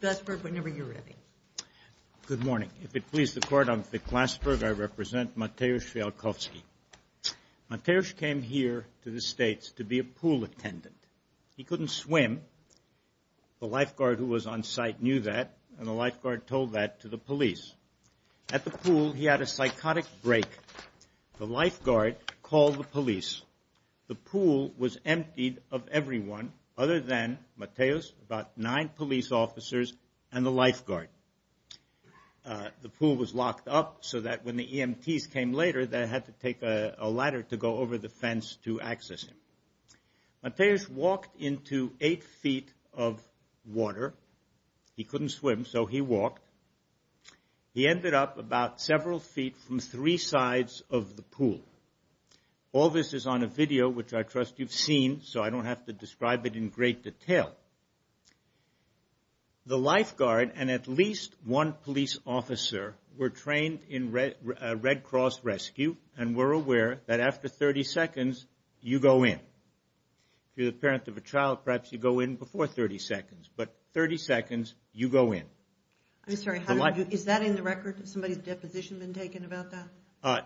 Good morning. If it pleases the Court, I'm Fiklasburg. I represent Mateusz Fijalkowski. Mateusz came here to the States to be a pool attendant. He couldn't swim. The lifeguard who was on site knew that, and the lifeguard told that to the police. At the pool, he had a psychotic break. The lifeguard called the police. The pool was emptied of everyone other than Mateusz, about nine police officers, and the lifeguard. The pool was locked up so that when the EMTs came later, they had to take a ladder to go over the fence to access him. Mateusz walked into eight feet of water. He couldn't swim, so he walked. He ended up about several feet from three sides of the pool. All this is on a video, which I trust you've seen, so I don't have to describe it in great detail. The lifeguard and at least one police officer were trained in Red Cross rescue, and were aware that after 30 seconds, you go in. If you're the parent of a child, perhaps you go in before 30 seconds, but 30 seconds, you go in. I'm sorry, is that in the record? Has somebody's deposition been taken about that?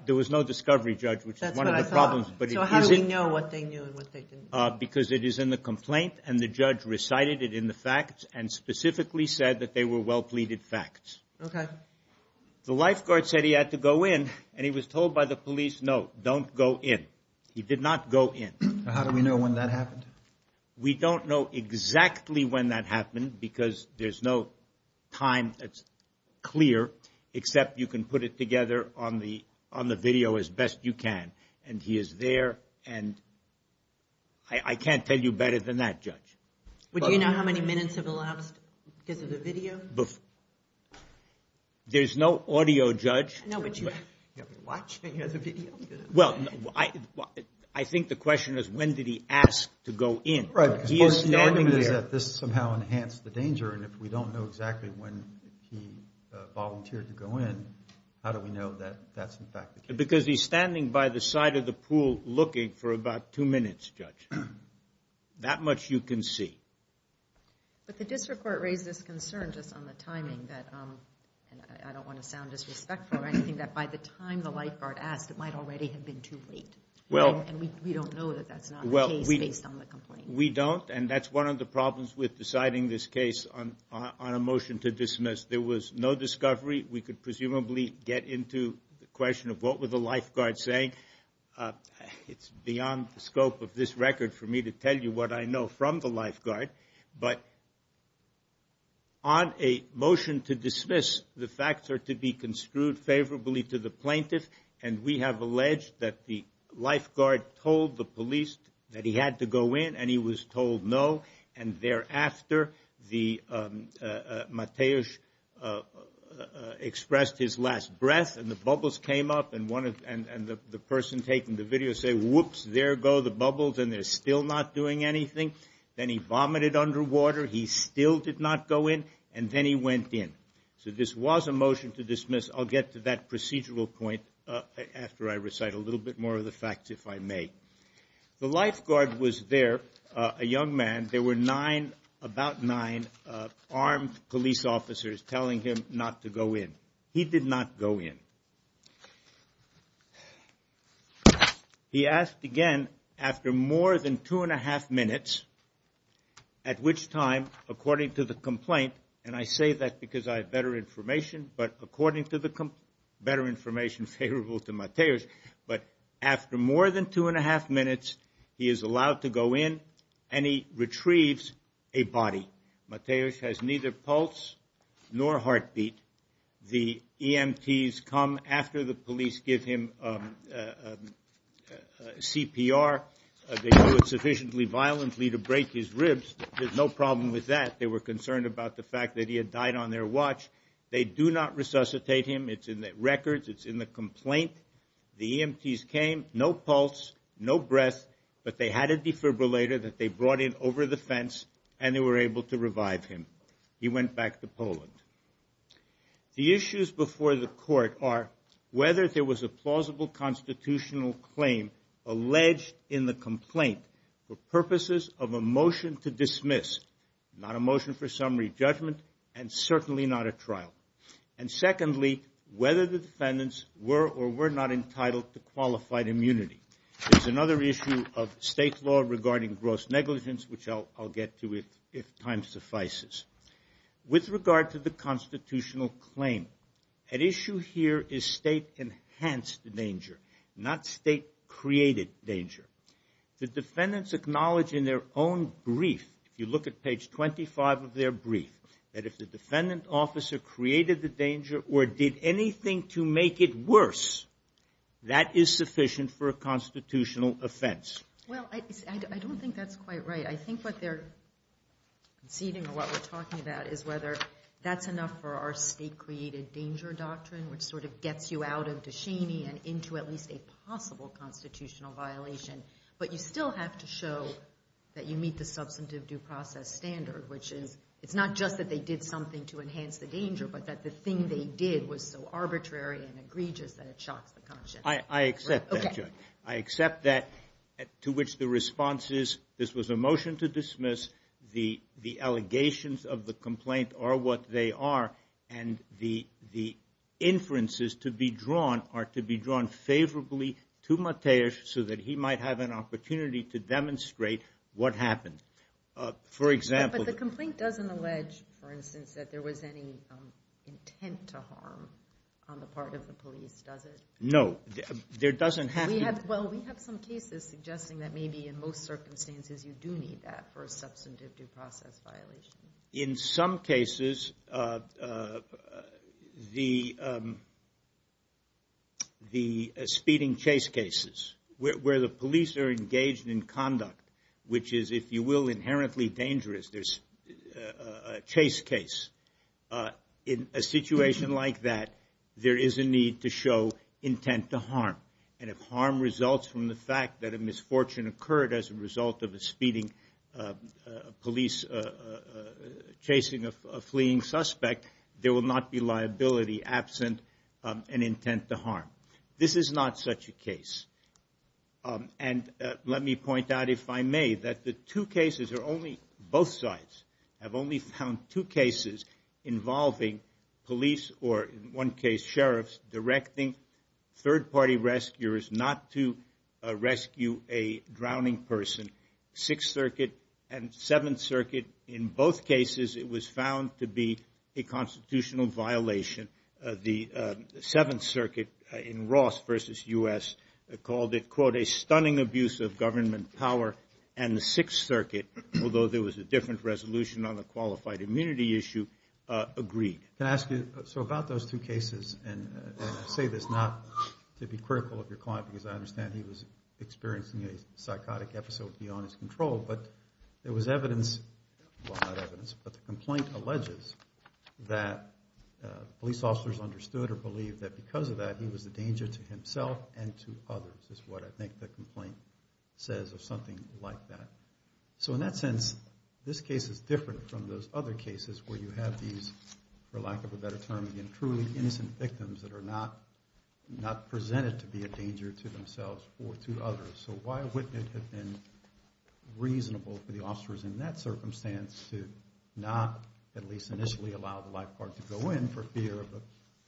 There was no discovery, Judge, which is one of the problems, but it is in the record. What they knew and what they didn't know? Because it is in the complaint, and the judge recited it in the facts, and specifically said that they were well-pleaded facts. Okay. The lifeguard said he had to go in, and he was told by the police, no, don't go in. He did not go in. How do we know when that happened? We don't know exactly when that happened, because there's no time that's clear, except you can put it together on the video as best you can, and he is there, and I can't tell you better than that, Judge. Do you know how many minutes have elapsed because of the video? There's no audio, Judge. No, but you have to be watching the video. Well, I think the question is, when did he ask to go in? Right, because the argument is that this somehow enhanced the danger, and if we don't know exactly when he volunteered to go in, how do we know that that's, in fact, the case? Because he's standing by the side of the pool looking for about two minutes, Judge. That much you can see. But the district court raised this concern just on the timing, and I don't want to sound disrespectful or anything, that by the time the lifeguard asked, it might already have been too late, and we don't know that that's not the case based on the complaint. We don't, and that's one of the problems with deciding this case on a motion to dismiss. There was no discovery. We could presumably get into the question of what were the lifeguards saying. It's beyond the scope of this record for me to tell you what I know from the lifeguard, but on a motion to dismiss, the facts are to be construed favorably to the plaintiff, and we have alleged that the lifeguard told the police that he had to go in, and he was told no, and thereafter, Mateusz expressed his last breath, and the bubbles came up, and the person taking the video said, whoops, there go the bubbles, and they're still not doing anything. Then he vomited underwater. He still did not go in, and then he went in. So this was a motion to dismiss. I'll get to that procedural point after I recite a little bit more of the facts, if I may. The lifeguard was there, a young man. There were nine, about nine, armed police officers telling him not to go in. He did not go in. He asked again after more than two and a half minutes, at which time, according to the complaint, and I say that because I have better information, but according to the better information favorable to Mateusz, but after more than two and a half minutes, he is allowed to go in, and he retrieves a body. Mateusz has neither pulse nor heartbeat. The EMTs come after the police give him CPR. They do it sufficiently violently to break his ribs. There's no problem with that. They were concerned about the fact that he had died on their watch. They do not resuscitate him. It's in the records. It's in the complaint. The EMTs came, no pulse, no breath, but they had a defibrillator that they brought in over the fence, and they were able to revive him. He went back to Poland. The issues before the court are whether there was a plausible constitutional claim alleged in the complaint for purposes of a motion to dismiss, not a motion for summary judgment, and certainly not a trial, and secondly, whether the defendants were or were not entitled to qualified immunity. There's another issue of state law regarding gross negligence, which I'll get to if time suffices. With regard to the constitutional claim, at issue here is state-enhanced danger, not state-created danger. The defendants acknowledge in their own brief, if you look at page 25 of their brief, that if the defendant officer created the danger or did anything to make it worse, that is sufficient for a constitutional offense. Well, I don't think that's quite right. I think what they're conceding or what we're talking about is whether that's enough for our state-created danger doctrine, which sort of gets you out of Descheny and into at least a possible constitutional violation, but you still have to show that you meet the substantive due process standard, which is, it's not just that they did something to enhance the danger, but that the thing they did was so arbitrary and egregious that it shocks the conscience. I accept that, Judge. I accept that, to which the response is, this was a motion to dismiss, the allegations of the complaint are what they are and the inferences to be drawn are to be drawn favorably to Mateusz so that he might have an opportunity to demonstrate what happened. For example... But the complaint doesn't allege, for instance, that there was any intent to harm on the part of the police, does it? No. There doesn't have to... Well, we have some cases suggesting that maybe in most circumstances you do need that for a substantive due process violation. In some cases, the speeding chase cases, where the police are engaged in conduct, which is, if you will, inherently dangerous, there's a chase case. In a situation like that, there is a need to show intent to harm, and if harm results from the fact that a misfortune occurred as a result of a speeding police chasing a fleeing suspect, there will not be liability absent and intent to harm. This is not such a case. And let me point out, if I may, that the two cases are only... Both sides have only found two cases involving police or, in one case, sheriffs directing third-party rescuers not to rescue a drowning person, Sixth Circuit and Seventh Circuit. In both cases, it was found to be a constitutional violation. The Seventh Circuit in Ross v. U.S. called it, quote, a stunning abuse of government power, and the Sixth Circuit, although there was a different resolution on the qualified immunity issue, agreed. Can I ask you, so about those two cases, and I say this not to be critical of your client because I understand he was experiencing a psychotic episode beyond his control, but there was evidence, well, not evidence, but the complaint alleges that police officers understood or believed that because of that, he was a danger to himself and to others, is what I think the complaint says, or something like that. So in that sense, this case is different from those other cases where you have these, for lack of a better term, truly innocent victims that are not presented to be a danger to themselves or to others. So why wouldn't it have been reasonable for the officers in that circumstance to not at least initially allow the lifeguard to go in for fear of the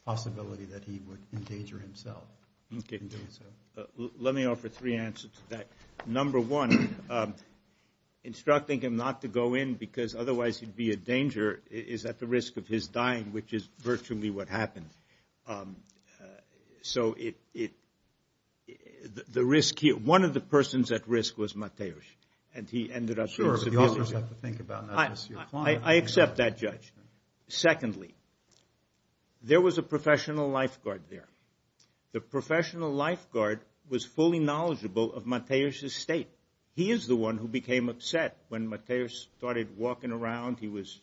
possibility that he would endanger himself? Let me offer three answers to that. Number one, instructing him not to go in because otherwise he'd be a danger is at the risk of his dying, which is virtually what happened. So it, the risk here, one of the persons at risk was Mateusz, and he ended up being subpoenaed. Sure, but the officers have to think about not just your client. I accept that, Judge. Secondly, there was a professional lifeguard there. The professional lifeguard was fully knowledgeable of Mateusz's state. He is the one who became upset when Mateusz started walking around. He was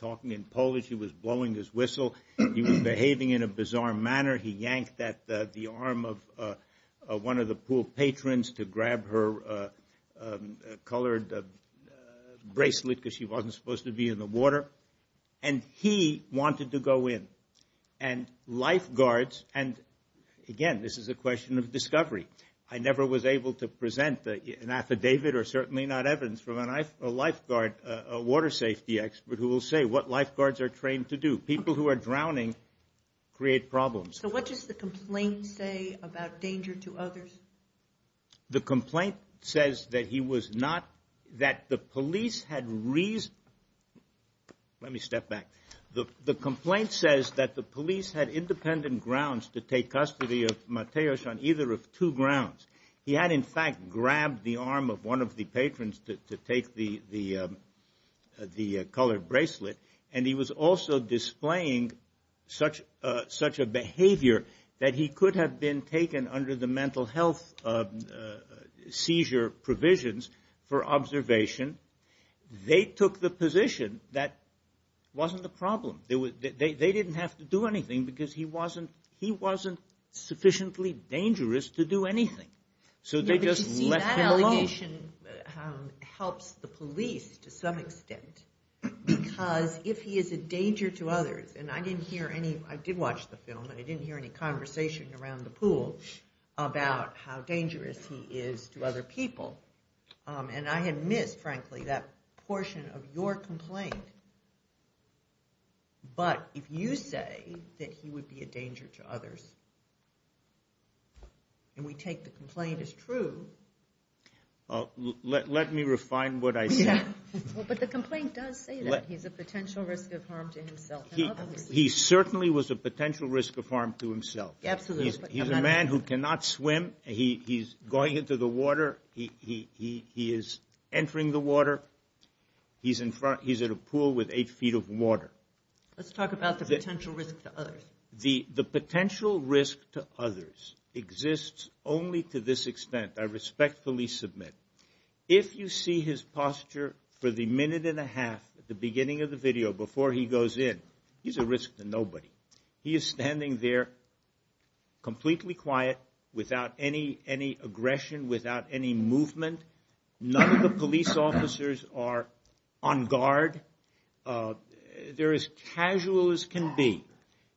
talking in Polish, he was blowing his whistle, he was behaving in a bizarre manner. He yanked at the arm of one of the pool patrons to grab her colored bracelet because she wasn't supposed to be in the water. And he wanted to go in. And lifeguards, and again, this is a question of discovery. I never was able to present an affidavit or certainly not evidence from a lifeguard, a water safety expert, who will say what lifeguards are trained to do. People who are drowning create problems. So what does the complaint say about danger to others? The complaint says that he was not, that the police had reason, let me step back. The complaint says that the police had independent grounds to take custody of Mateusz on either of two grounds. He had, in fact, grabbed the arm of one of the patrons to take the colored bracelet. And he was also displaying such a behavior that he could have been taken under the mental health seizure provisions for observation. They took the position that wasn't a problem. They didn't have to do anything because he wasn't sufficiently dangerous to do anything. So they just left him alone. But you see, that allegation helps the police to some extent because if he is a danger to others, and I didn't hear any, I did watch the film, and I didn't hear any conversation around the pool about how dangerous he is to other people. And I had missed, frankly, that portion of your complaint. But if you say that he would be a danger to others, and we take the complaint as true. Let me refine what I said. But the complaint does say that he's a potential risk of harm to himself and others. He certainly was a potential risk of harm to himself. Absolutely. He's a man who cannot swim. He's going into the water, he is entering the water, he's at a pool with eight feet of water. Let's talk about the potential risk to others. The potential risk to others exists only to this extent, I respectfully submit. If you see his posture for the minute and a half at the beginning of the video before he goes in, he's a risk to nobody. He is standing there completely quiet, without any aggression, without any movement. None of the police officers are on guard. They're as casual as can be.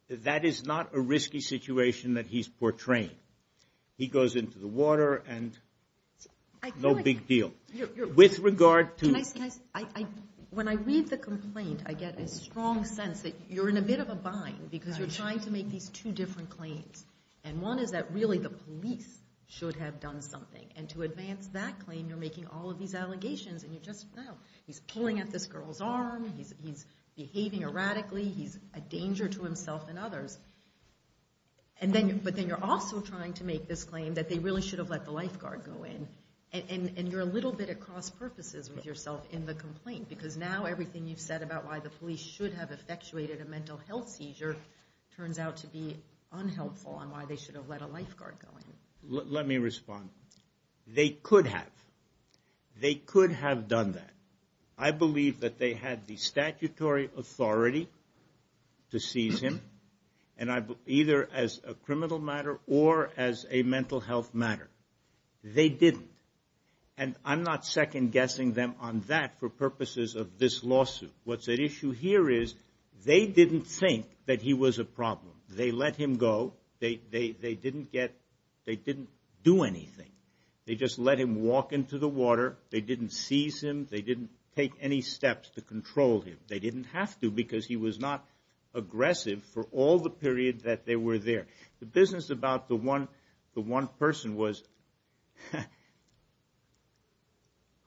That is not a risky situation that he's portraying. He goes into the water, and no big deal. With regard to- When I read the complaint, I get a strong sense that you're in a bit of a bind, because you're trying to make these two different claims. And one is that really the police should have done something. And to advance that claim, you're making all of these allegations, and you just, well, he's pulling at this girl's arm, he's behaving erratically, he's a danger to himself and others. But then you're also trying to make this claim that they really should have let the lifeguard go in. And you're a little bit at cross purposes with yourself in the complaint, because now everything you've said about why the police should have effectuated a mental health seizure turns out to be unhelpful, and why they should have let a lifeguard go in. Let me respond. They could have. They could have done that. I believe that they had the statutory authority to seize him, either as a criminal matter or as a mental health matter. They didn't. And I'm not second-guessing them on that for purposes of this lawsuit. What's at issue here is they didn't think that he was a problem. They let him go. They didn't get, they didn't do anything. They just let him walk into the water. They didn't seize him. They didn't take any steps to control him. They didn't have to, because he was not aggressive for all the period that they were there. The business about the one person was,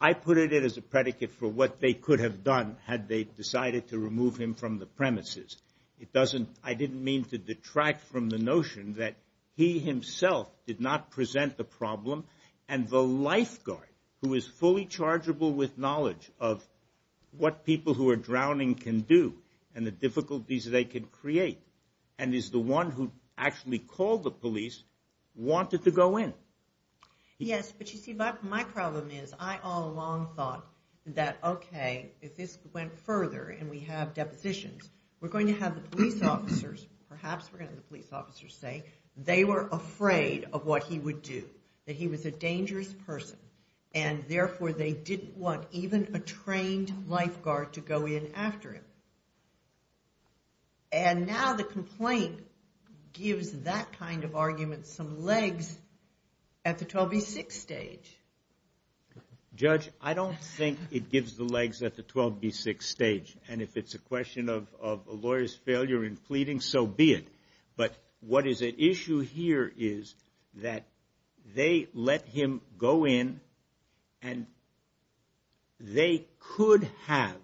I put it in as a predicate for what they could have done had they decided to remove him from the premises. It doesn't, I didn't mean to detract from the notion that he himself did not present the problem, and the lifeguard, who is fully chargeable with knowledge of what people who actually called the police wanted to go in. Yes, but you see, my problem is, I all along thought that, okay, if this went further and we have depositions, we're going to have the police officers, perhaps we're going to have the police officers say they were afraid of what he would do, that he was a dangerous person, and therefore they didn't want even a trained lifeguard to go in after him. And now the complaint gives that kind of argument some legs at the 12B6 stage. Judge, I don't think it gives the legs at the 12B6 stage, and if it's a question of a lawyer's failure in pleading, so be it. But what is at issue here is that they let him go in, and they could have,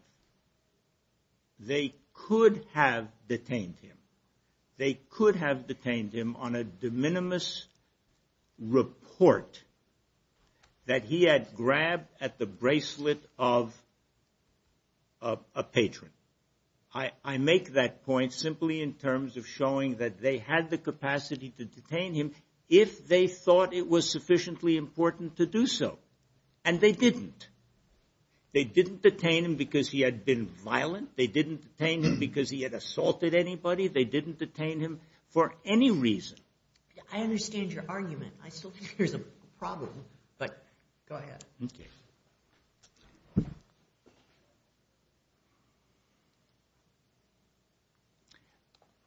they could have detained him, they could have detained him on a de minimis report that he had grabbed at the bracelet of a patron. I make that point simply in terms of showing that they had the capacity to detain him if they thought it was sufficiently important to do so, and they didn't. They didn't detain him because he had been violent, they didn't detain him because he had assaulted anybody, they didn't detain him for any reason. I understand your argument, I still think there's a problem, but go ahead.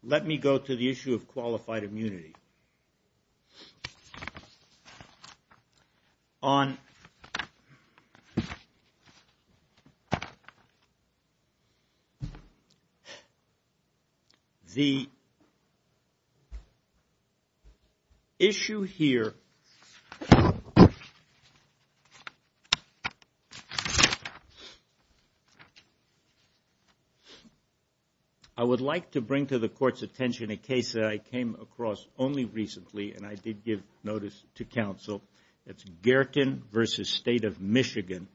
Let me go to the issue of qualified immunity. The issue here, I would like to bring to the court's attention a case that I came across only recently, and I did give notice to counsel, that's Gherkin v. State of Michigan,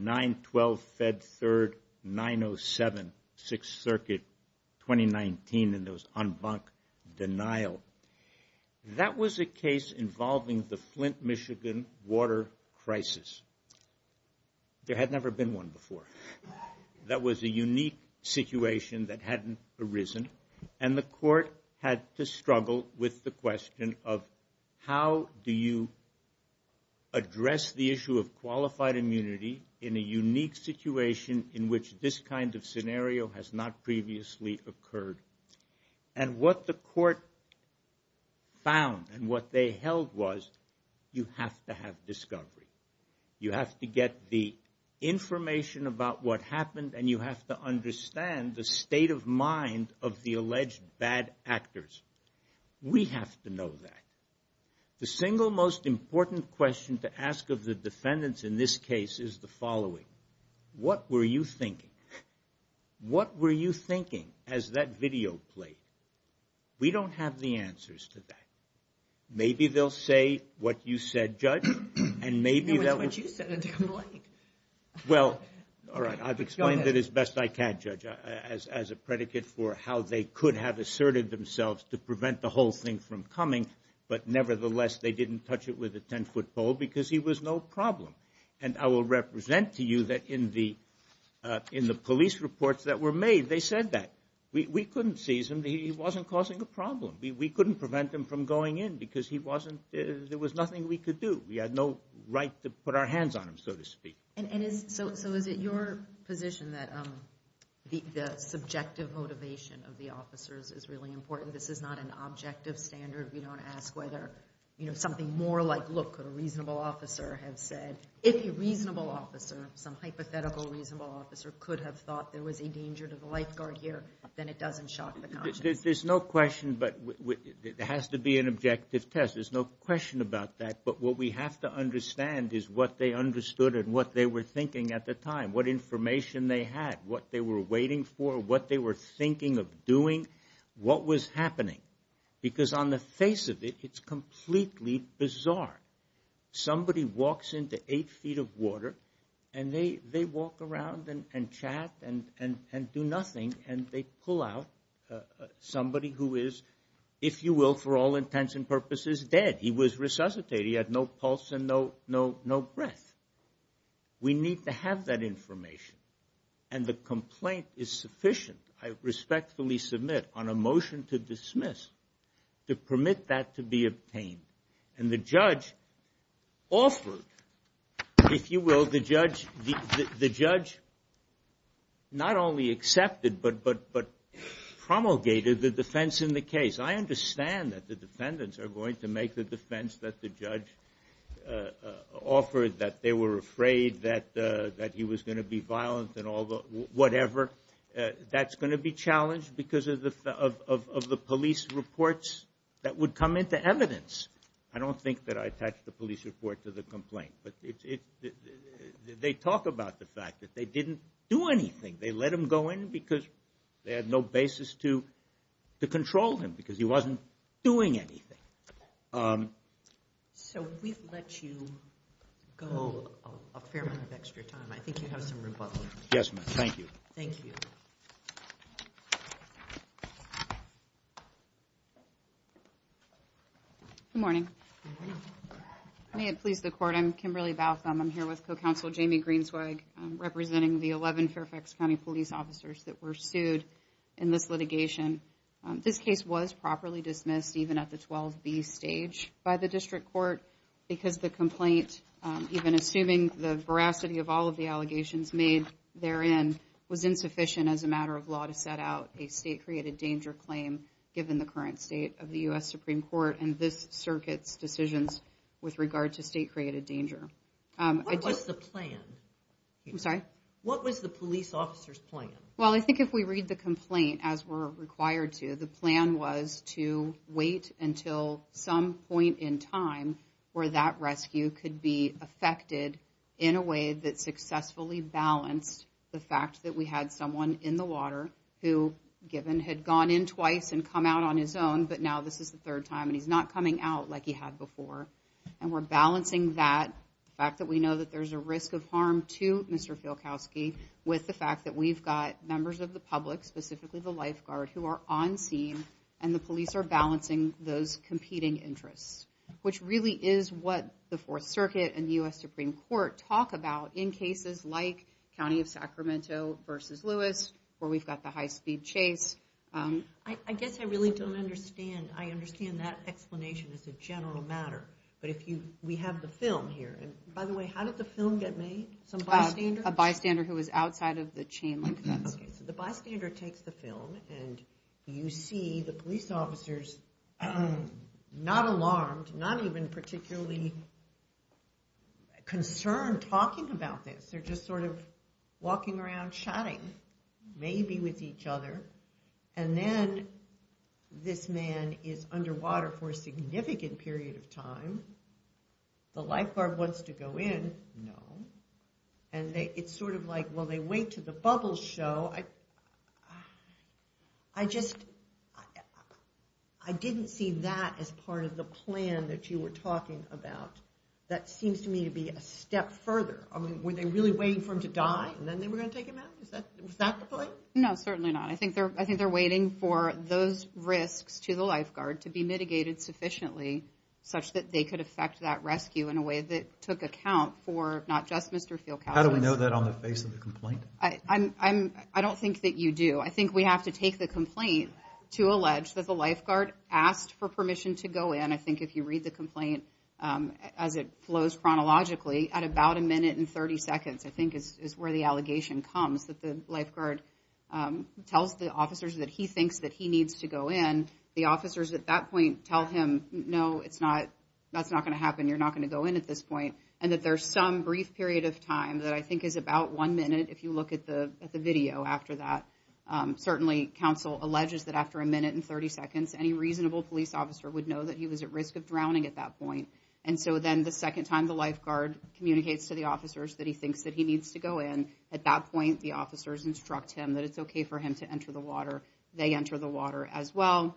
9-12 Fed 3rd, 907, 6th Circuit, 2019, and it was en banc denial. That was a case involving the Flint, Michigan water crisis. There had never been one before. That was a unique situation that hadn't arisen, and the court had to struggle with the question of how do you address the issue of qualified immunity in a unique situation in which this kind of scenario has not previously occurred, and what the court found and what they held was you have to have discovery. You have to get the information about what happened, and you have to understand the state of mind of the alleged bad actors. We have to know that. The single most important question to ask of the defendants in this case is the following, what were you thinking? What were you thinking as that video played? We don't have the answers to that. Maybe they'll say what you said, Judge, and maybe they'll... It was what you said, and they're lying. Well, all right, I've explained it as best I can, Judge, as a predicate for how they could have asserted themselves to prevent the whole thing from coming, but nevertheless, they didn't touch it with a 10-foot pole because he was no problem, and I will represent to you that in the police reports that were made, they said that. We couldn't seize him. He wasn't causing a problem. We couldn't prevent him from going in because he wasn't... There was nothing we could do. We had no right to put our hands on him, so to speak. So is it your position that the subjective motivation of the officers is really important? This is not an objective standard. We don't ask whether something more like, look, could a reasonable officer have said... If a reasonable officer, some hypothetical reasonable officer, could have thought there was a danger to the lifeguard here, then it doesn't shock the conscience. There's no question, but it has to be an objective test. There's no question about that, but what we have to understand is what they understood and what they were thinking at the time, what information they had, what they were waiting for, what they were thinking of doing, what was happening. Because on the face of it, it's completely bizarre. Somebody walks into eight feet of water, and they walk around and chat and do nothing, and they pull out somebody who is, if you will, for all intents and purposes, dead. He was resuscitated. He had no pulse and no breath. We need to have that information, and the complaint is sufficient, I respectfully submit, on a motion to dismiss to permit that to be obtained. The judge offered, if you will, the judge not only accepted but promulgated the defense in the case. I understand that the defendants are going to make the defense that the judge offered, that they were afraid that he was going to be violent and all the whatever. That's going to be challenged because of the police reports that would come into evidence. I don't think that I attached the police report to the complaint, but they talk about the fact that they didn't do anything. They let him go in because they had no basis to control him because he wasn't doing anything. So we've let you go a fair amount of extra time. I think you have some rebuttals. Yes, ma'am. Thank you. Thank you. Good morning. Good morning. If I may please the court, I'm Kimberly Baltham. I'm here with co-counsel Jamie Greenswag, representing the 11 Fairfax County police officers that were sued in this litigation. This case was properly dismissed, even at the 12B stage, by the district court because the complaint, even assuming the veracity of all of the allegations made therein, was insufficient as a matter of law to set out a state-created danger claim given the current state of the U.S. Supreme Court and this circuit's decisions with regard to state-created danger. What was the plan? What was the police officer's plan? Well, I think if we read the complaint as we're required to, the plan was to wait until some point in time where that rescue could be effected in a way that successfully balanced the fact that we had someone in the water who, given, had gone in twice and come out on his own, but now this is the third time and he's not coming out like he had before. And we're balancing that, the fact that we know that there's a risk of harm to Mr. Fielkowski, with the fact that we've got members of the public, specifically the lifeguard, who are on scene, and the police are balancing those competing interests, which really is what the Fourth Circuit and the U.S. Supreme Court talk about in cases like County of Sacramento versus Lewis, where we've got the high-speed chase. I guess I really don't understand, I understand that explanation as a general matter, but if you, we have the film here, and by the way, how did the film get made? Some bystander? A bystander who was outside of the chain link fence. Okay, so the bystander takes the film and you see the police officers, not alarmed, not even particularly concerned talking about this, they're just sort of walking around chatting, maybe with each other, and then this man is underwater for a significant period of time, the lifeguard wants to go in, no, and it's sort of like, well, they wait till the bubbles show, I just, I didn't see that as part of the plan that you were talking about. That seems to me to be a step further, I mean, were they really waiting for him to die, and then they were going to take him out? Was that the plan? No, certainly not. I think they're waiting for those risks to the lifeguard to be mitigated sufficiently, such that they could affect that rescue in a way that took account for, not just Mr. Fielkowitz. How do we know that on the face of the complaint? I don't think that you do. I think we have to take the complaint to allege that the lifeguard asked for permission to go in, I think if you read the complaint as it flows chronologically, at about a minute and 30 seconds, I think is where the allegation comes, that the lifeguard tells the officers that he thinks that he needs to go in, the officers at that point tell him, no, it's not, that's not going to happen, you're not going to go in at this point, and that there's some brief period of time that I think is about one minute, if you look at the video after that, certainly counsel alleges that after a minute and 30 seconds, any reasonable police officer would know that he was at risk of drowning at that point, and so then the second time the lifeguard communicates to the officers that he thinks that he needs to go in, at that point the officers instruct him that it's okay for him to enter the water, they enter the water as well,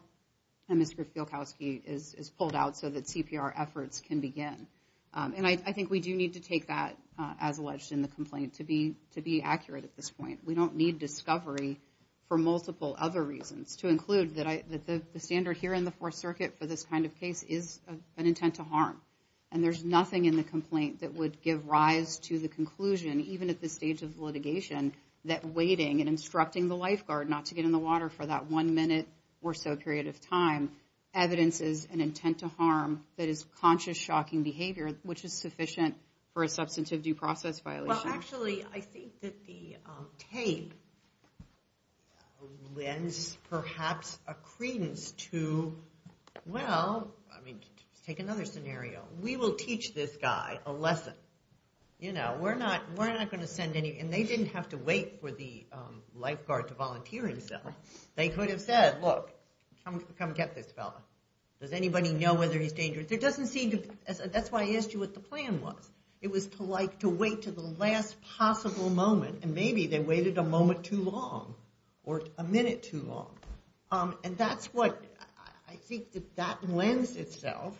and Mr. Fielkowski is pulled out so that CPR efforts can begin. And I think we do need to take that as alleged in the complaint to be accurate at this point. We don't need discovery for multiple other reasons, to include that the standard here in the Fourth Circuit for this kind of case is an intent to harm, and there's nothing in the complaint that would give rise to the conclusion, even at this stage of litigation, that waiting and instructing the lifeguard not to get in the water for that one minute or so period of time evidences an intent to harm that is conscious, shocking behavior, which is sufficient for a substantive due process violation. Well, actually, I think that the tape lends perhaps a credence to, well, I mean, let's take another scenario. We will teach this guy a lesson. You know, we're not, we're not going to send any, and they didn't have to wait for the lifeguard to volunteer himself. They could have said, look, come get this fellow. Does anybody know whether he's dangerous? It doesn't seem to, that's why I asked you what the plan was. It was to like, to wait to the last possible moment, and maybe they waited a moment too long, or a minute too long. And that's what, I think that that lends itself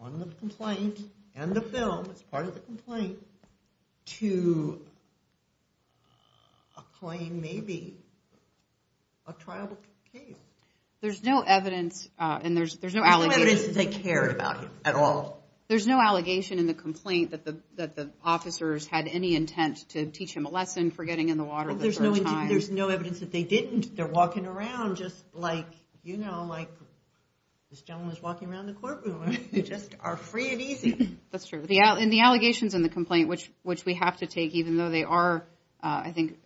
on the complaint and the film, it's part of the complaint, to a claim, maybe a trial case. There's no evidence, and there's no allegation. There's no evidence that they cared about him at all. There's no allegation in the complaint that the officers had any intent to teach him a lesson for getting in the water the third time. There's no evidence that they didn't. They're walking around just like, you know, like this gentleman's walking around the courtroom. They just are free and easy. That's true. And the allegations in the complaint, which we have to take, even though they are, I think,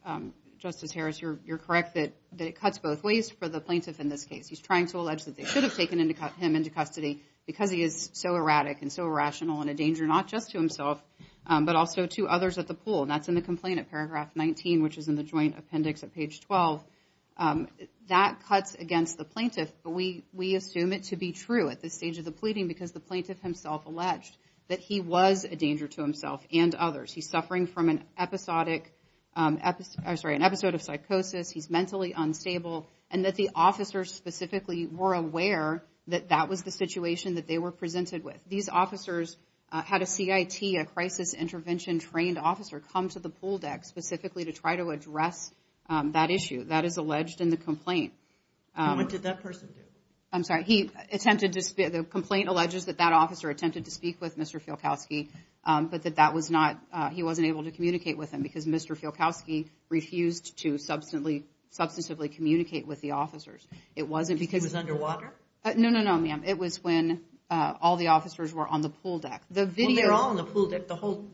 Justice Harris, you're correct that it cuts both ways for the plaintiff in this case. He's trying to allege that they should have taken him into custody because he is so erratic and so irrational and a danger not just to himself, but also to others at the pool. And that's in the complaint at paragraph 19, which is in the joint appendix at page 12. That cuts against the plaintiff, but we assume it to be true at this stage of the that he was a danger to himself and others. He's suffering from an episodic, I'm sorry, an episode of psychosis. He's mentally unstable. And that the officers specifically were aware that that was the situation that they were presented with. These officers had a CIT, a crisis intervention trained officer, come to the pool deck specifically to try to address that issue. That is alleged in the complaint. What did that person do? I'm sorry. He attempted to, the complaint alleges that that officer attempted to speak with Mr. Fielkowski, but that that was not, he wasn't able to communicate with him because Mr. Fielkowski refused to substantively communicate with the officers. It wasn't because... He was underwater? No, no, no, ma'am. It was when all the officers were on the pool deck. Well, they were all on the pool deck the whole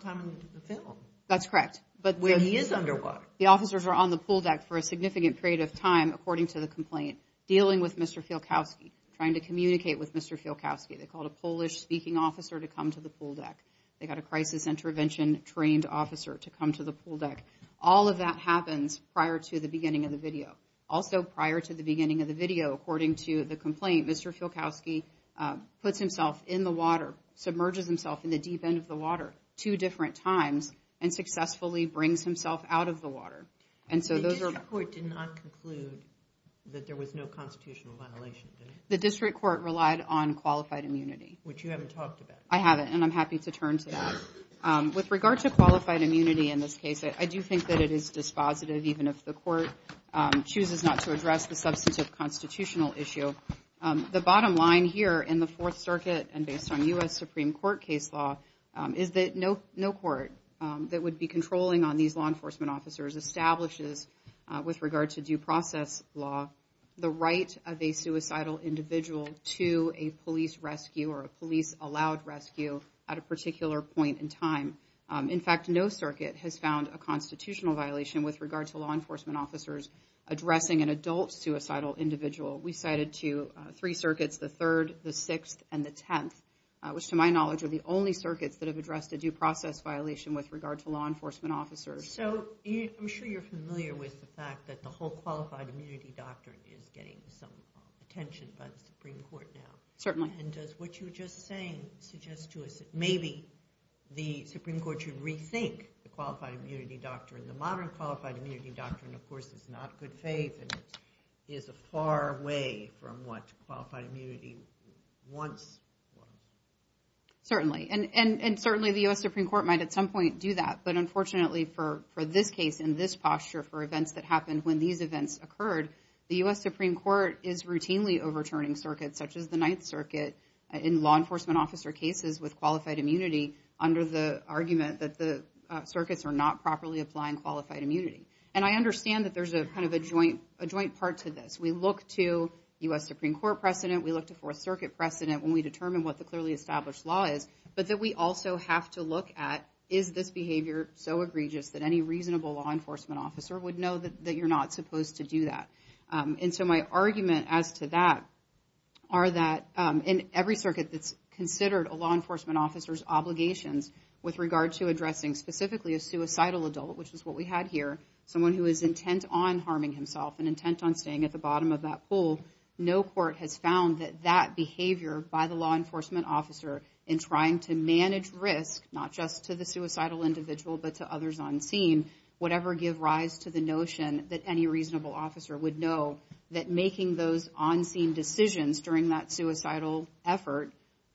time in the film. That's correct. So he is underwater. The officers were on the pool deck for a significant period of time, according to the complaint, dealing with Mr. Fielkowski, trying to communicate with Mr. Fielkowski. They called a Polish speaking officer to come to the pool deck. They got a crisis intervention trained officer to come to the pool deck. All of that happens prior to the beginning of the video. Also prior to the beginning of the video, according to the complaint, Mr. Fielkowski puts himself in the water, submerges himself in the deep end of the water two different times and successfully brings himself out of the water. And so those are... The district court did not conclude that there was no constitutional violation, did it? The district court relied on qualified immunity. Which you haven't talked about. I haven't, and I'm happy to turn to that. With regard to qualified immunity in this case, I do think that it is dispositive, even if the court chooses not to address the substantive constitutional issue. The bottom line here in the Fourth Circuit, and based on U.S. Supreme Court case law, is that no court that would be controlling on these law enforcement officers establishes, with regard to due process law, the right of a suicidal individual to a police rescue or a police-allowed rescue at a particular point in time. In fact, no circuit has found a constitutional violation with regard to law enforcement officers addressing an adult suicidal individual. We cited to three circuits, the Third, the Sixth, and the Tenth, which to my knowledge are the only circuits that have addressed a due process violation with regard to law enforcement officers. So I'm sure you're familiar with the fact that the whole qualified immunity doctrine is getting some attention by the Supreme Court now. Certainly. And does what you were just saying suggest to us that maybe the Supreme Court should rethink the qualified immunity doctrine. The modern qualified immunity doctrine, of course, is not good faith and is far away from what qualified immunity once was. Certainly, and certainly the U.S. Supreme Court might at some point do that, but unfortunately for this case and this posture, for events that happened when these events occurred, the U.S. Supreme Court is routinely overturning circuits such as the Ninth Circuit in law enforcement officer cases with qualified immunity under the argument that the circuits are not properly applying qualified immunity. And I understand that there's a kind of a joint part to this. We look to U.S. Supreme Court precedent, we look to Fourth Circuit precedent when we determine what the clearly established law is, but that we also have to look at is this behavior so egregious that any reasonable law enforcement officer would know that you're not supposed to do that. And so my argument as to that are that in every circuit that's considered a law enforcement officer's obligations with regard to addressing specifically a suicidal adult, which is what we had here, someone who is intent on harming himself and intent on staying at the bottom of that pool, no court has found that that behavior by the law enforcement officer in on-scene would ever give rise to the notion that any reasonable officer would know that making those on-scene decisions during that suicidal effort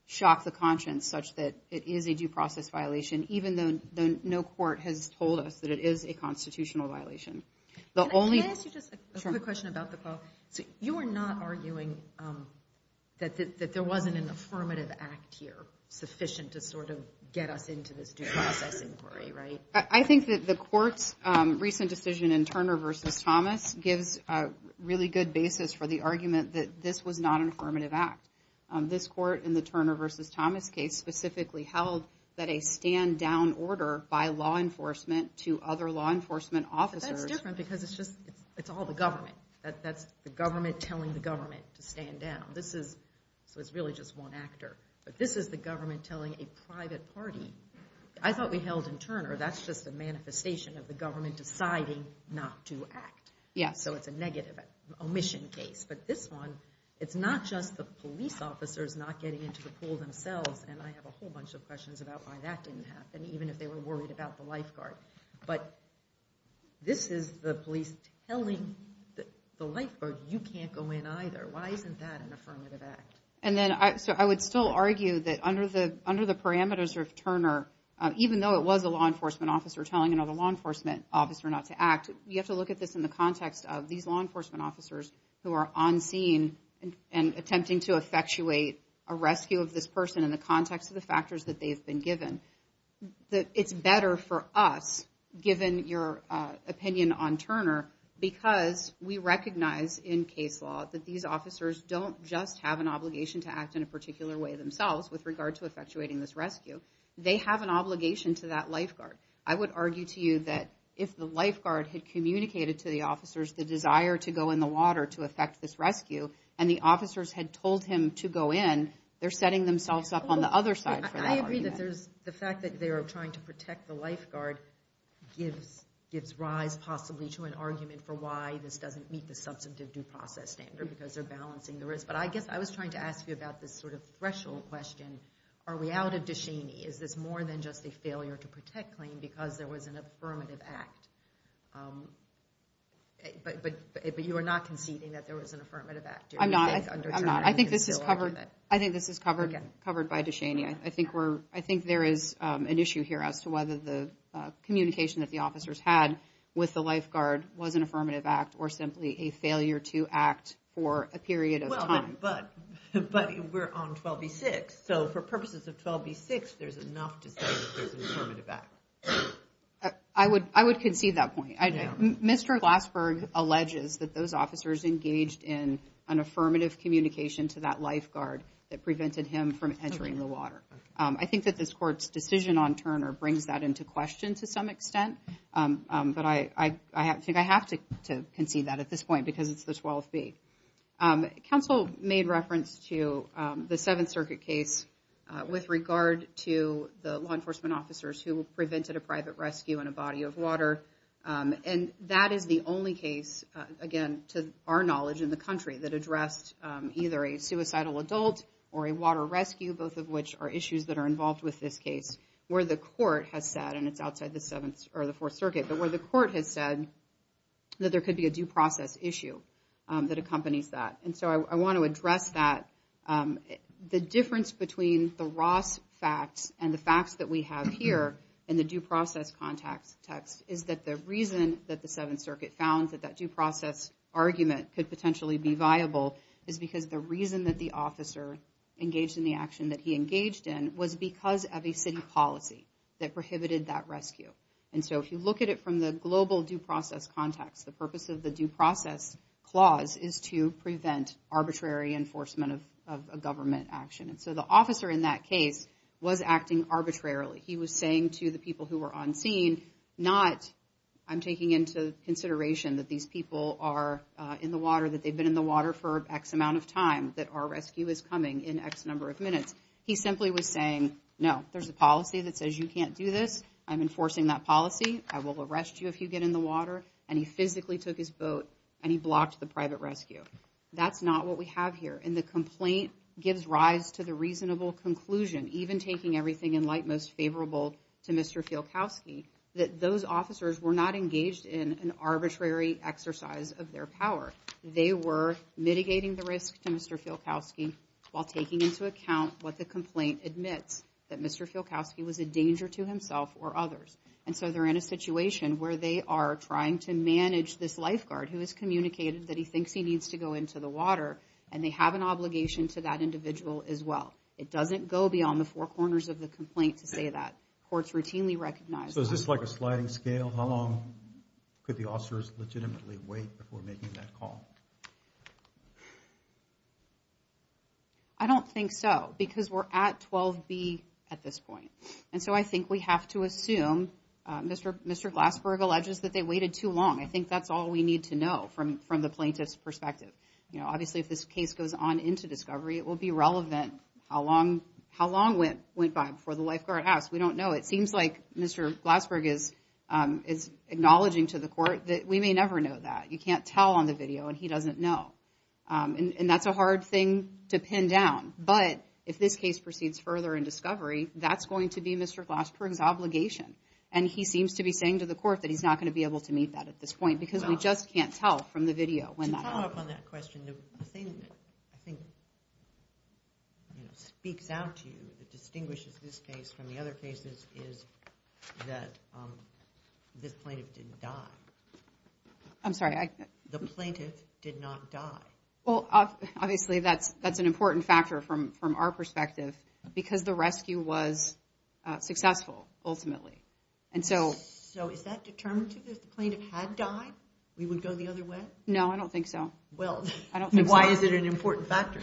shocked the conscience such that it is a due process violation, even though no court has told us that it is a constitutional violation. The only... Can I ask you just a quick question about the call? You are not arguing that there wasn't an affirmative act here sufficient to sort of get us into this due process inquiry, right? I think that the court's recent decision in Turner v. Thomas gives a really good basis for the argument that this was not an affirmative act. This court, in the Turner v. Thomas case, specifically held that a stand-down order by law enforcement to other law enforcement officers... But that's different because it's just, it's all the government. That's the government telling the government to stand down. This is, so it's really just one actor, but this is the government telling a private party. I thought we held in Turner, that's just a manifestation of the government deciding not to act. Yeah. So it's a negative omission case. But this one, it's not just the police officers not getting into the pool themselves, and I have a whole bunch of questions about why that didn't happen, even if they were worried about the lifeguard. But this is the police telling the lifeguard, you can't go in either. Why isn't that an affirmative act? I would still argue that under the parameters of Turner, even though it was a law enforcement officer telling another law enforcement officer not to act, you have to look at this in the context of these law enforcement officers who are on scene and attempting to effectuate a rescue of this person in the context of the factors that they've been given. It's better for us, given your opinion on Turner, because we recognize in case law that these officers don't just have an obligation to act in a particular way themselves with regard to effectuating this rescue. They have an obligation to that lifeguard. I would argue to you that if the lifeguard had communicated to the officers the desire to go in the water to effect this rescue, and the officers had told him to go in, they're setting themselves up on the other side for that argument. I agree that there's the fact that they are trying to protect the lifeguard gives rise possibly to an argument for why this doesn't meet the substantive due process standard because they're balancing the risk. But I guess I was trying to ask you about this sort of threshold question. Are we out of Dushaney? Is this more than just a failure to protect claim because there was an affirmative act? But you are not conceding that there was an affirmative act? I'm not. I'm not. I think this is covered. I think this is covered by Dushaney. I think there is an issue here as to whether the communication that the officers had with the lifeguard was an affirmative act or simply a failure to act for a period of time. But we're on 12b-6, so for purposes of 12b-6, there's enough to say that there's an affirmative act. I would concede that point. Mr. Glassberg alleges that those officers engaged in an affirmative communication to that lifeguard that prevented him from entering the water. I think that this court's decision on Turner brings that into question to some extent. But I think I have to concede that at this point because it's the 12b. Counsel made reference to the Seventh Circuit case with regard to the law enforcement officers who prevented a private rescue in a body of water. And that is the only case, again, to our knowledge in the country that addressed either a suicidal adult or a water rescue, both of which are issues that are involved with this case, where the court has said, and it's outside the Seventh or the Fourth Circuit, but where the court has said that there could be a due process issue that accompanies that. And so I want to address that. The difference between the Ross facts and the facts that we have here in the due process context is that the reason that the Seventh Circuit found that that due process argument could potentially be viable is because the reason that the officer engaged in the action that he engaged in was because of a city policy that prohibited that rescue. And so if you look at it from the global due process context, the purpose of the due process clause is to prevent arbitrary enforcement of a government action. And so the officer in that case was acting arbitrarily. He was saying to the people who were on scene, not, I'm taking into consideration that these people are in the water, that they've been in the water for X amount of time, that our rescue is coming in X number of minutes. He simply was saying, no, there's a policy that says you can't do this. I'm enforcing that policy. I will arrest you if you get in the water. And he physically took his boat and he blocked the private rescue. That's not what we have here. And the complaint gives rise to the reasonable conclusion, even taking everything in light of what is most favorable to Mr. Fielkowski, that those officers were not engaged in an arbitrary exercise of their power. They were mitigating the risk to Mr. Fielkowski while taking into account what the complaint admits, that Mr. Fielkowski was a danger to himself or others. And so they're in a situation where they are trying to manage this lifeguard who has communicated that he thinks he needs to go into the water, and they have an obligation to that individual as well. It doesn't go beyond the four corners of the complaint to say that. Courts routinely recognize that. So is this like a sliding scale? How long could the officers legitimately wait before making that call? I don't think so, because we're at 12B at this point. And so I think we have to assume, Mr. Glassberg alleges that they waited too long. I think that's all we need to know from the plaintiff's perspective. Obviously, if this case goes on into discovery, it will be relevant how long went by before the lifeguard asked. We don't know. It seems like Mr. Glassberg is acknowledging to the court that we may never know that. You can't tell on the video, and he doesn't know. And that's a hard thing to pin down. But if this case proceeds further in discovery, that's going to be Mr. Glassberg's obligation. And he seems to be saying to the court that he's not going to be able to meet that at this point, because we just can't tell from the video when that happened. To follow up on that question, the thing that I think speaks out to you that distinguishes this case from the other cases is that this plaintiff didn't die. I'm sorry? The plaintiff did not die. Well, obviously, that's an important factor from our perspective, because the rescue was successful, ultimately. And so... So is that determinative? If the plaintiff had died, we would go the other way? No, I don't think so. Well... I don't think so. Why is it an important factor?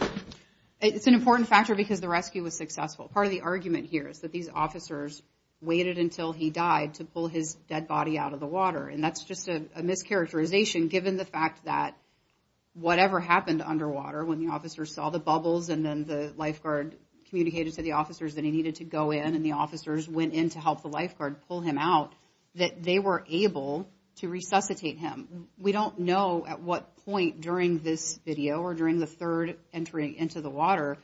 It's an important factor because the rescue was successful. Part of the argument here is that these officers waited until he died to pull his dead body out of the water. And that's just a mischaracterization, given the fact that whatever happened underwater, when the officers saw the bubbles, and then the lifeguard communicated to the officers that he needed to go in, and the officers went in to help the lifeguard pull him out, that they were able to resuscitate him. We don't know at what point during this video, or during the third entry into the water,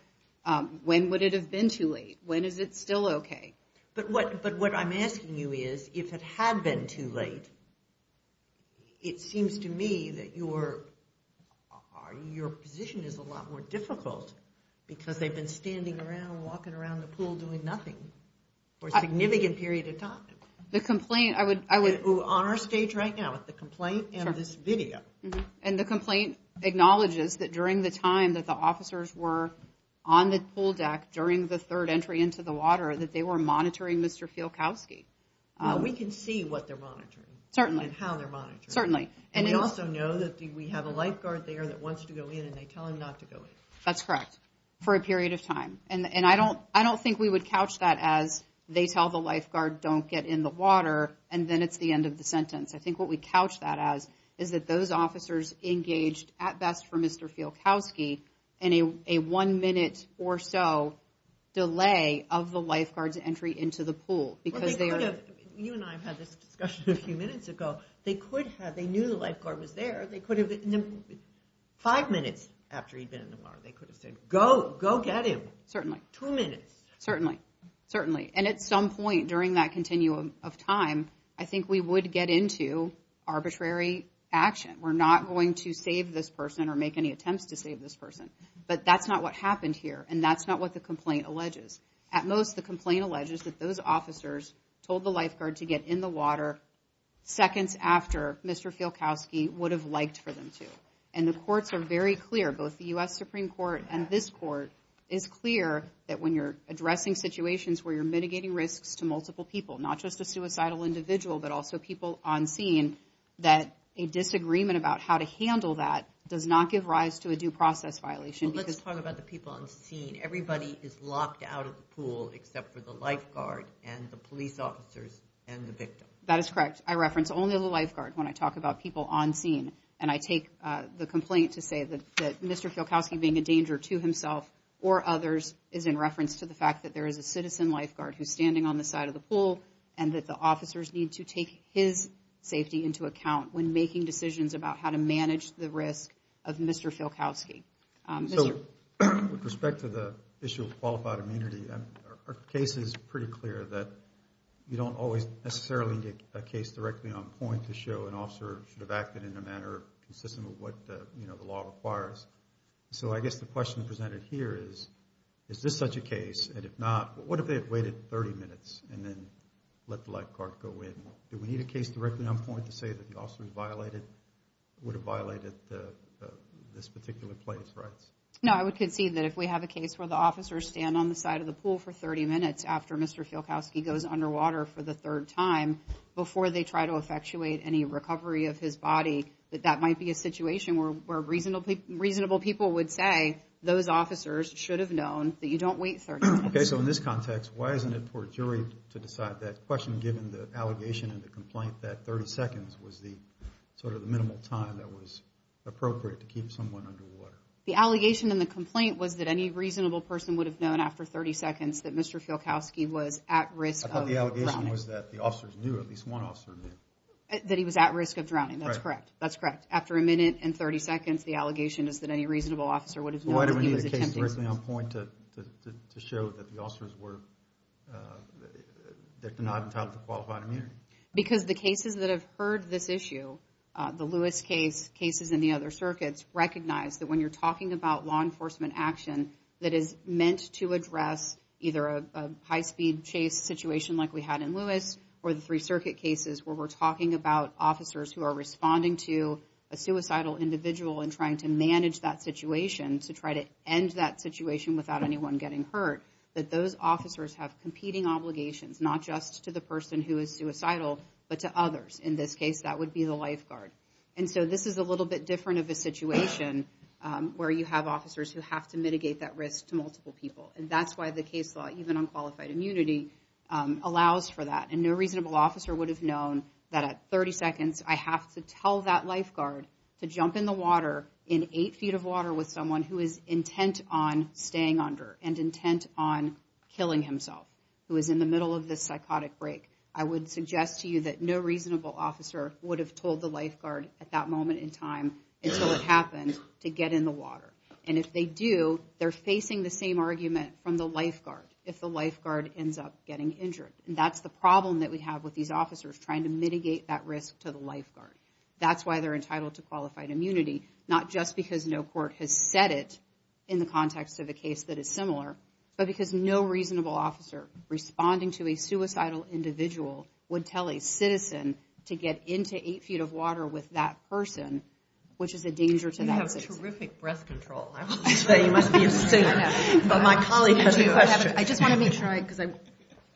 when would it have been too late? When is it still okay? But what I'm asking you is, if it had been too late, it seems to me that your position is a lot more difficult, because they've been standing around, walking around the pool doing nothing for a significant period of time. The complaint, I would... We're on our stage right now, with the complaint and this video. And the complaint acknowledges that during the time that the officers were on the pool deck during the third entry into the water, that they were monitoring Mr. Fielkowski. We can see what they're monitoring. Certainly. And how they're monitoring. Certainly. And we also know that we have a lifeguard there that wants to go in, and they tell him not to go in. That's correct. For a period of time. And I don't think we would couch that as, they tell the lifeguard don't get in the water, and then it's the end of the sentence. I think what we couch that as, is that those officers engaged, at best for Mr. Fielkowski, in a one minute or so delay of the lifeguard's entry into the pool, because they are... You and I have had this discussion a few minutes ago. They could have, they knew the lifeguard was there, they could have... Five minutes after he'd been in the water, they could have said, go, go get him. Certainly. Two minutes. Certainly. Certainly. And at some point during that continuum of time, I think we would get into arbitrary action. We're not going to save this person or make any attempts to save this person. But that's not what happened here, and that's not what the complaint alleges. At most, the complaint alleges that those officers told the lifeguard to get in the water seconds after Mr. Fielkowski would have liked for them to. And the courts are very clear, both the US Supreme Court and this court, is clear that when you're addressing situations where you're mitigating risks to multiple people, not just a suicidal individual, but also people on scene, that a disagreement about how to handle that does not give rise to a due process violation. Well, let's talk about the people on scene. Everybody is locked out of the pool except for the lifeguard and the police officers and the victim. That is correct. I reference only the lifeguard when I talk about people on scene. And I take the complaint to say that Mr. Fielkowski being a danger to himself or others is in reference to the fact that there is a citizen lifeguard who's standing on the side of the pool and that the officers need to take his safety into account when making decisions about how to manage the risk of Mr. Fielkowski. So, with respect to the issue of qualified immunity, our case is pretty clear that you don't always necessarily get a case directly on point to show an officer should have acted in a manner consistent with what the law requires. So, I guess the question presented here is, is this such a case and if not, what if they had waited 30 minutes and then let the lifeguard go in? Do we need a case directly on point to say that the officer would have violated this particular place? No, I would concede that if we have a case where the officers stand on the side of the pool for 30 minutes after Mr. Fielkowski goes underwater for the third time, before they try to effectuate any recovery of his body, that that might be a situation where reasonable people would say those officers should have known that you don't wait 30 minutes. Okay, so in this context, why isn't it for a jury to decide that question given the allegation and the complaint that 30 seconds was the, sort of, the minimal time that was appropriate to keep someone underwater? The allegation in the complaint was that any reasonable person would have known after 30 seconds that Mr. Fielkowski was at risk of drowning. The allegation was that the officers knew, at least one officer knew. That he was at risk of drowning, that's correct, that's correct. After a minute and 30 seconds, the allegation is that any reasonable officer would have known that he was attempting to... Why do we need a case directly on point to show that the officers were, that they're not entitled to qualified immunity? Because the cases that have heard this issue, the Lewis case, cases in the other circuits, either a high-speed chase situation like we had in Lewis, or the three circuit cases where we're talking about officers who are responding to a suicidal individual and trying to manage that situation, to try to end that situation without anyone getting hurt, that those officers have competing obligations, not just to the person who is suicidal, but to others. In this case, that would be the lifeguard. And so, this is a little bit different of a situation where you have officers who have to mitigate that risk to multiple people. And that's why the case law, even on qualified immunity, allows for that. And no reasonable officer would have known that at 30 seconds, I have to tell that lifeguard to jump in the water, in eight feet of water, with someone who is intent on staying under, and intent on killing himself, who is in the middle of this psychotic break. I would suggest to you that no reasonable officer would have told the lifeguard at that moment in time, until it happened, to get in the water. And if they do, they're facing the same argument from the lifeguard, if the lifeguard ends up getting injured. And that's the problem that we have with these officers, trying to mitigate that risk to the lifeguard. That's why they're entitled to qualified immunity, not just because no court has said it, in the context of a case that is similar, but because no reasonable officer, responding to a suicidal individual, would tell a citizen to get into eight feet of water with that person, which is a danger to that citizen. That's terrific breath control, I will tell you, you must be a singer, but my colleague has a question. I just want to make sure I, because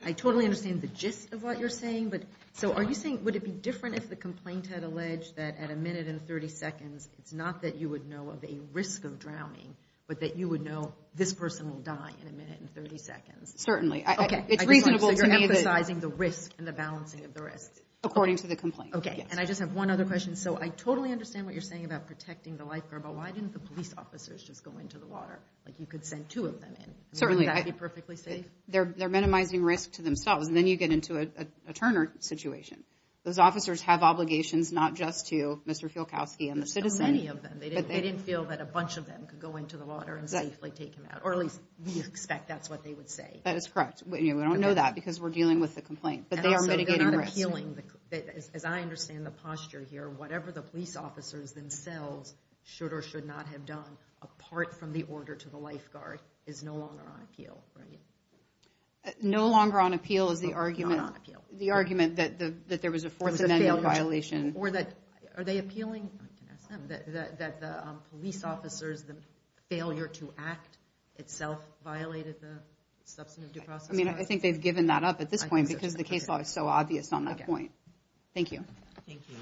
I totally understand the gist of what you're saying, but, so are you saying, would it be different if the complainant had alleged that at a minute and 30 seconds, it's not that you would know of a risk of drowning, but that you would know this person will die in a minute and 30 seconds? Certainly. Okay. It's reasonable to me that... So you're emphasizing the risk, and the balancing of the risks. According to the complaint, yes. Okay. And I just have one other question. And so I totally understand what you're saying about protecting the lifeguard, but why didn't the police officers just go into the water? Like, you could send two of them in, wouldn't that be perfectly safe? They're minimizing risk to themselves, and then you get into a Turner situation. Those officers have obligations, not just to Mr. Fielkowski and the citizen. There's so many of them. They didn't feel that a bunch of them could go into the water and safely take him out, or at least we expect that's what they would say. That is correct. We don't know that, because we're dealing with the complaint, but they are mitigating risk. Are they appealing, as I understand the posture here, whatever the police officers themselves should or should not have done, apart from the order to the lifeguard, is no longer on appeal, right? No longer on appeal is the argument that there was a fourth amendment violation. Or that... Are they appealing, I can ask them, that the police officers, the failure to act itself violated the substantive due process? I mean, I think they've given that up at this point, because the case law is so obvious on that point. Okay. Thank you. Thank you.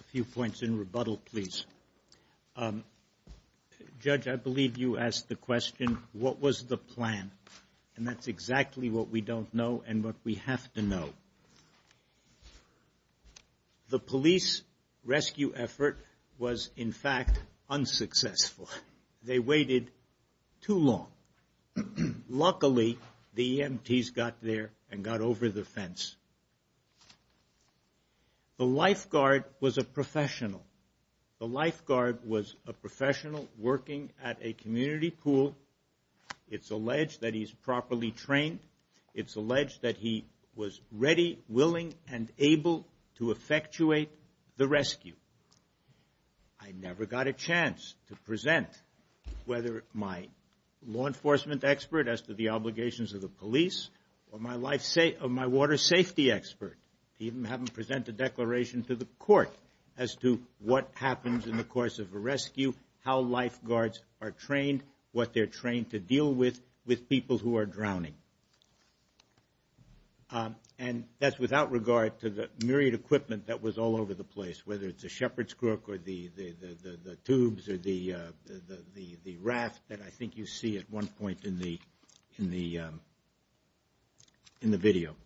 A few points in rebuttal, please. Judge, I believe you asked the question, what was the plan? And that's exactly what we don't know and what we have to know. The police rescue effort was, in fact, unsuccessful. They waited too long. Luckily, the EMTs got there and got over the fence. The lifeguard was a professional. The lifeguard was a professional working at a community pool. It's alleged that he's properly trained. It's alleged that he was ready, willing, and able to effectuate the rescue. I never got a chance to present whether my law enforcement expert as to the obligations of the police or my water safety expert, even having to present a declaration to the court as to what happens in the course of a rescue, how lifeguards are trained, what they're trained to deal with, with people who are drowning. And that's without regard to the myriad equipment that was all over the place, whether it's a shepherd's crook or the tubes or the raft that I think you see at one point in the video.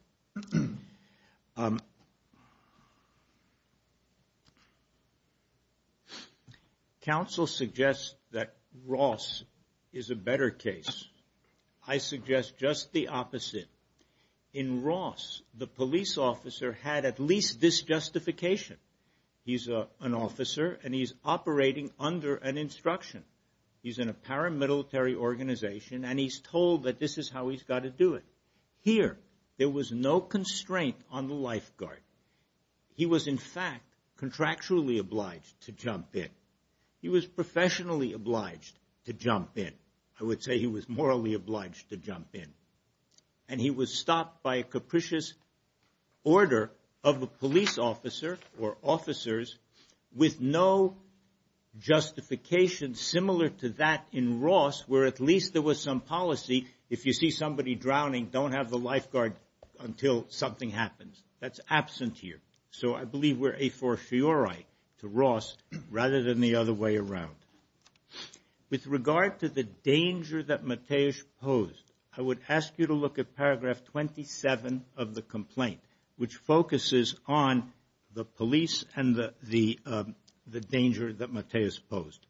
Counsel suggests that Ross is a better case. I suggest just the opposite. In Ross, the police officer had at least this justification. He's an officer and he's operating under an instruction. He's in a paramilitary organization and he's told that this is how he's got to do it. Here, there was no constraint on the lifeguard. He was in fact contractually obliged to jump in. He was professionally obliged to jump in. I would say he was morally obliged to jump in. And he was stopped by a capricious order of a police officer or officers with no justification similar to that in Ross, where at least there was some policy. If you see somebody drowning, don't have the lifeguard until something happens. That's absent here. So I believe we're a fortiori to Ross rather than the other way around. With regard to the danger that Mateusz posed, I would ask you to look at paragraph 27 of the complaint, which focuses on the police and the danger that Mateusz posed.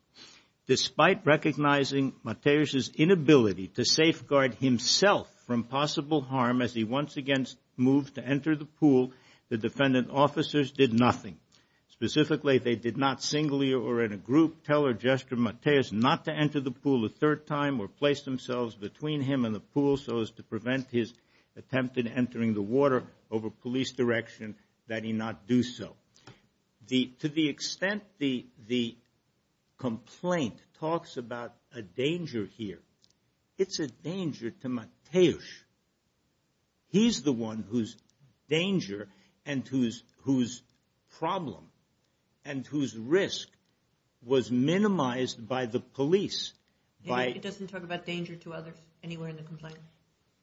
Despite recognizing Mateusz's inability to safeguard himself from possible harm as he once again moved to enter the pool, the defendant officers did nothing. Specifically, they did not singly or in a group tell or gesture Mateusz not to enter the pool a third time or place themselves between him and the pool so as to prevent his attempt in entering the water over police direction that he not do so. To the extent the complaint talks about a danger here, it's a danger to Mateusz. He's the one whose danger and whose problem and whose risk was minimized by the police. It doesn't talk about danger to others anywhere in the complaint?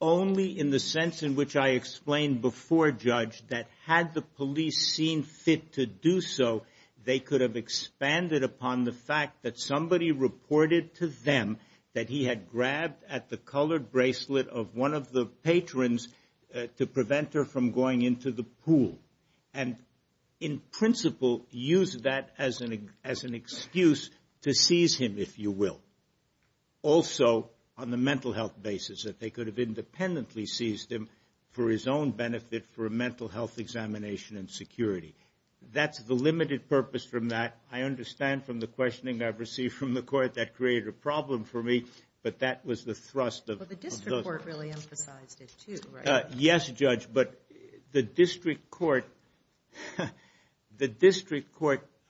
Only in the sense in which I explained before, Judge, that had the police seen fit to do so, they could have expanded upon the fact that somebody reported to them that he had grabbed at the colored bracelet of one of the patrons to prevent her from going into the pool. In principle, use that as an excuse to seize him, if you will. Also, on the mental health basis, that they could have independently seized him for his own benefit for a mental health examination and security. That's the limited purpose from that. I understand from the questioning I've received from the court that created a problem for me, but that was the thrust of- But the district court really emphasized it too, right? Yes, Judge, but the district court,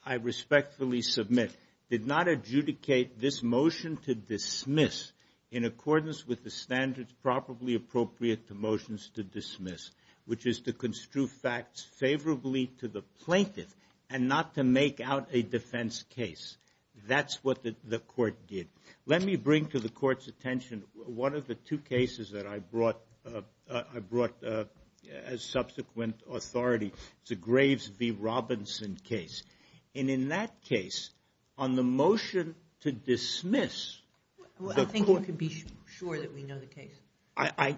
I respectfully submit did not adjudicate this motion to dismiss in accordance with the standards properly appropriate to motions to dismiss, which is to construe facts favorably to the plaintiff and not to make out a defense case. That's what the court did. Let me bring to the court's attention one of the two cases that I brought as subsequent authority. It's a Graves v. Robinson case. And in that case, on the motion to dismiss- I think you can be sure that we know the case.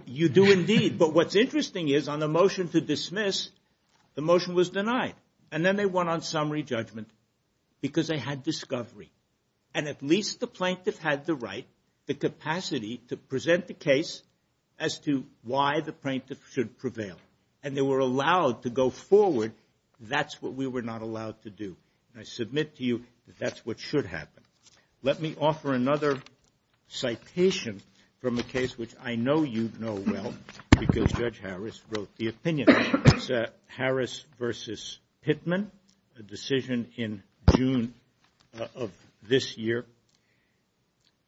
You do indeed. But what's interesting is on the motion to dismiss, the motion was denied. And then they went on summary judgment because they had discovery. And at least the plaintiff had the right, the capacity to present the case as to why the plaintiff should prevail. And they were allowed to go forward. That's what we were not allowed to do. And I submit to you that that's what should happen. Let me offer another citation from a case which I know you know well, because Judge Harris wrote the opinion. It's Harris v. Pittman, a decision in June of this year.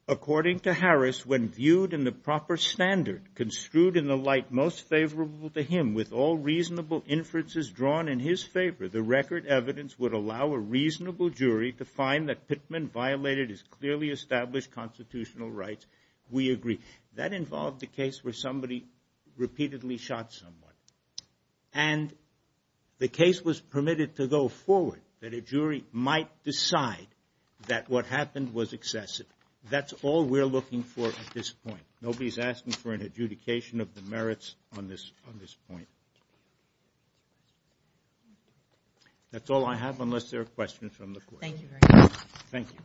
According to Harris, when viewed in the proper standard, construed in the light most favorable to him, with all reasonable inferences drawn in his favor, the record evidence would allow a reasonable jury to find that Pittman violated his clearly established constitutional rights. We agree. That involved the case where somebody repeatedly shot someone. And the case was permitted to go forward, that a jury might decide that what happened was excessive. That's all we're looking for at this point. Nobody's asking for an adjudication of the merits on this point. That's all I have, unless there are questions from the court. Thank you very much. Thank you.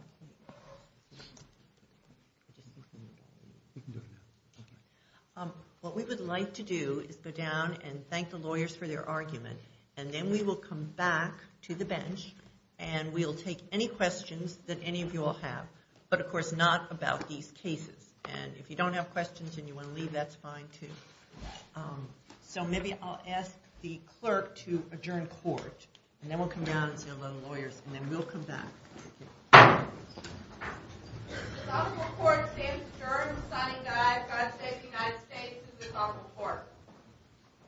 What we would like to do is go down and thank the lawyers for their argument. And then we will come back to the bench, and we'll take any questions that any of you all have. But of course, not about these cases. And if you don't have questions and you want to leave, that's fine, too. So maybe I'll ask the clerk to adjourn court. And then we'll come down and see a lot of lawyers. And then we'll come back. Thank you. This is also a court. Sam's the juror. I'm the signing guy. God save the United States. This is also a court.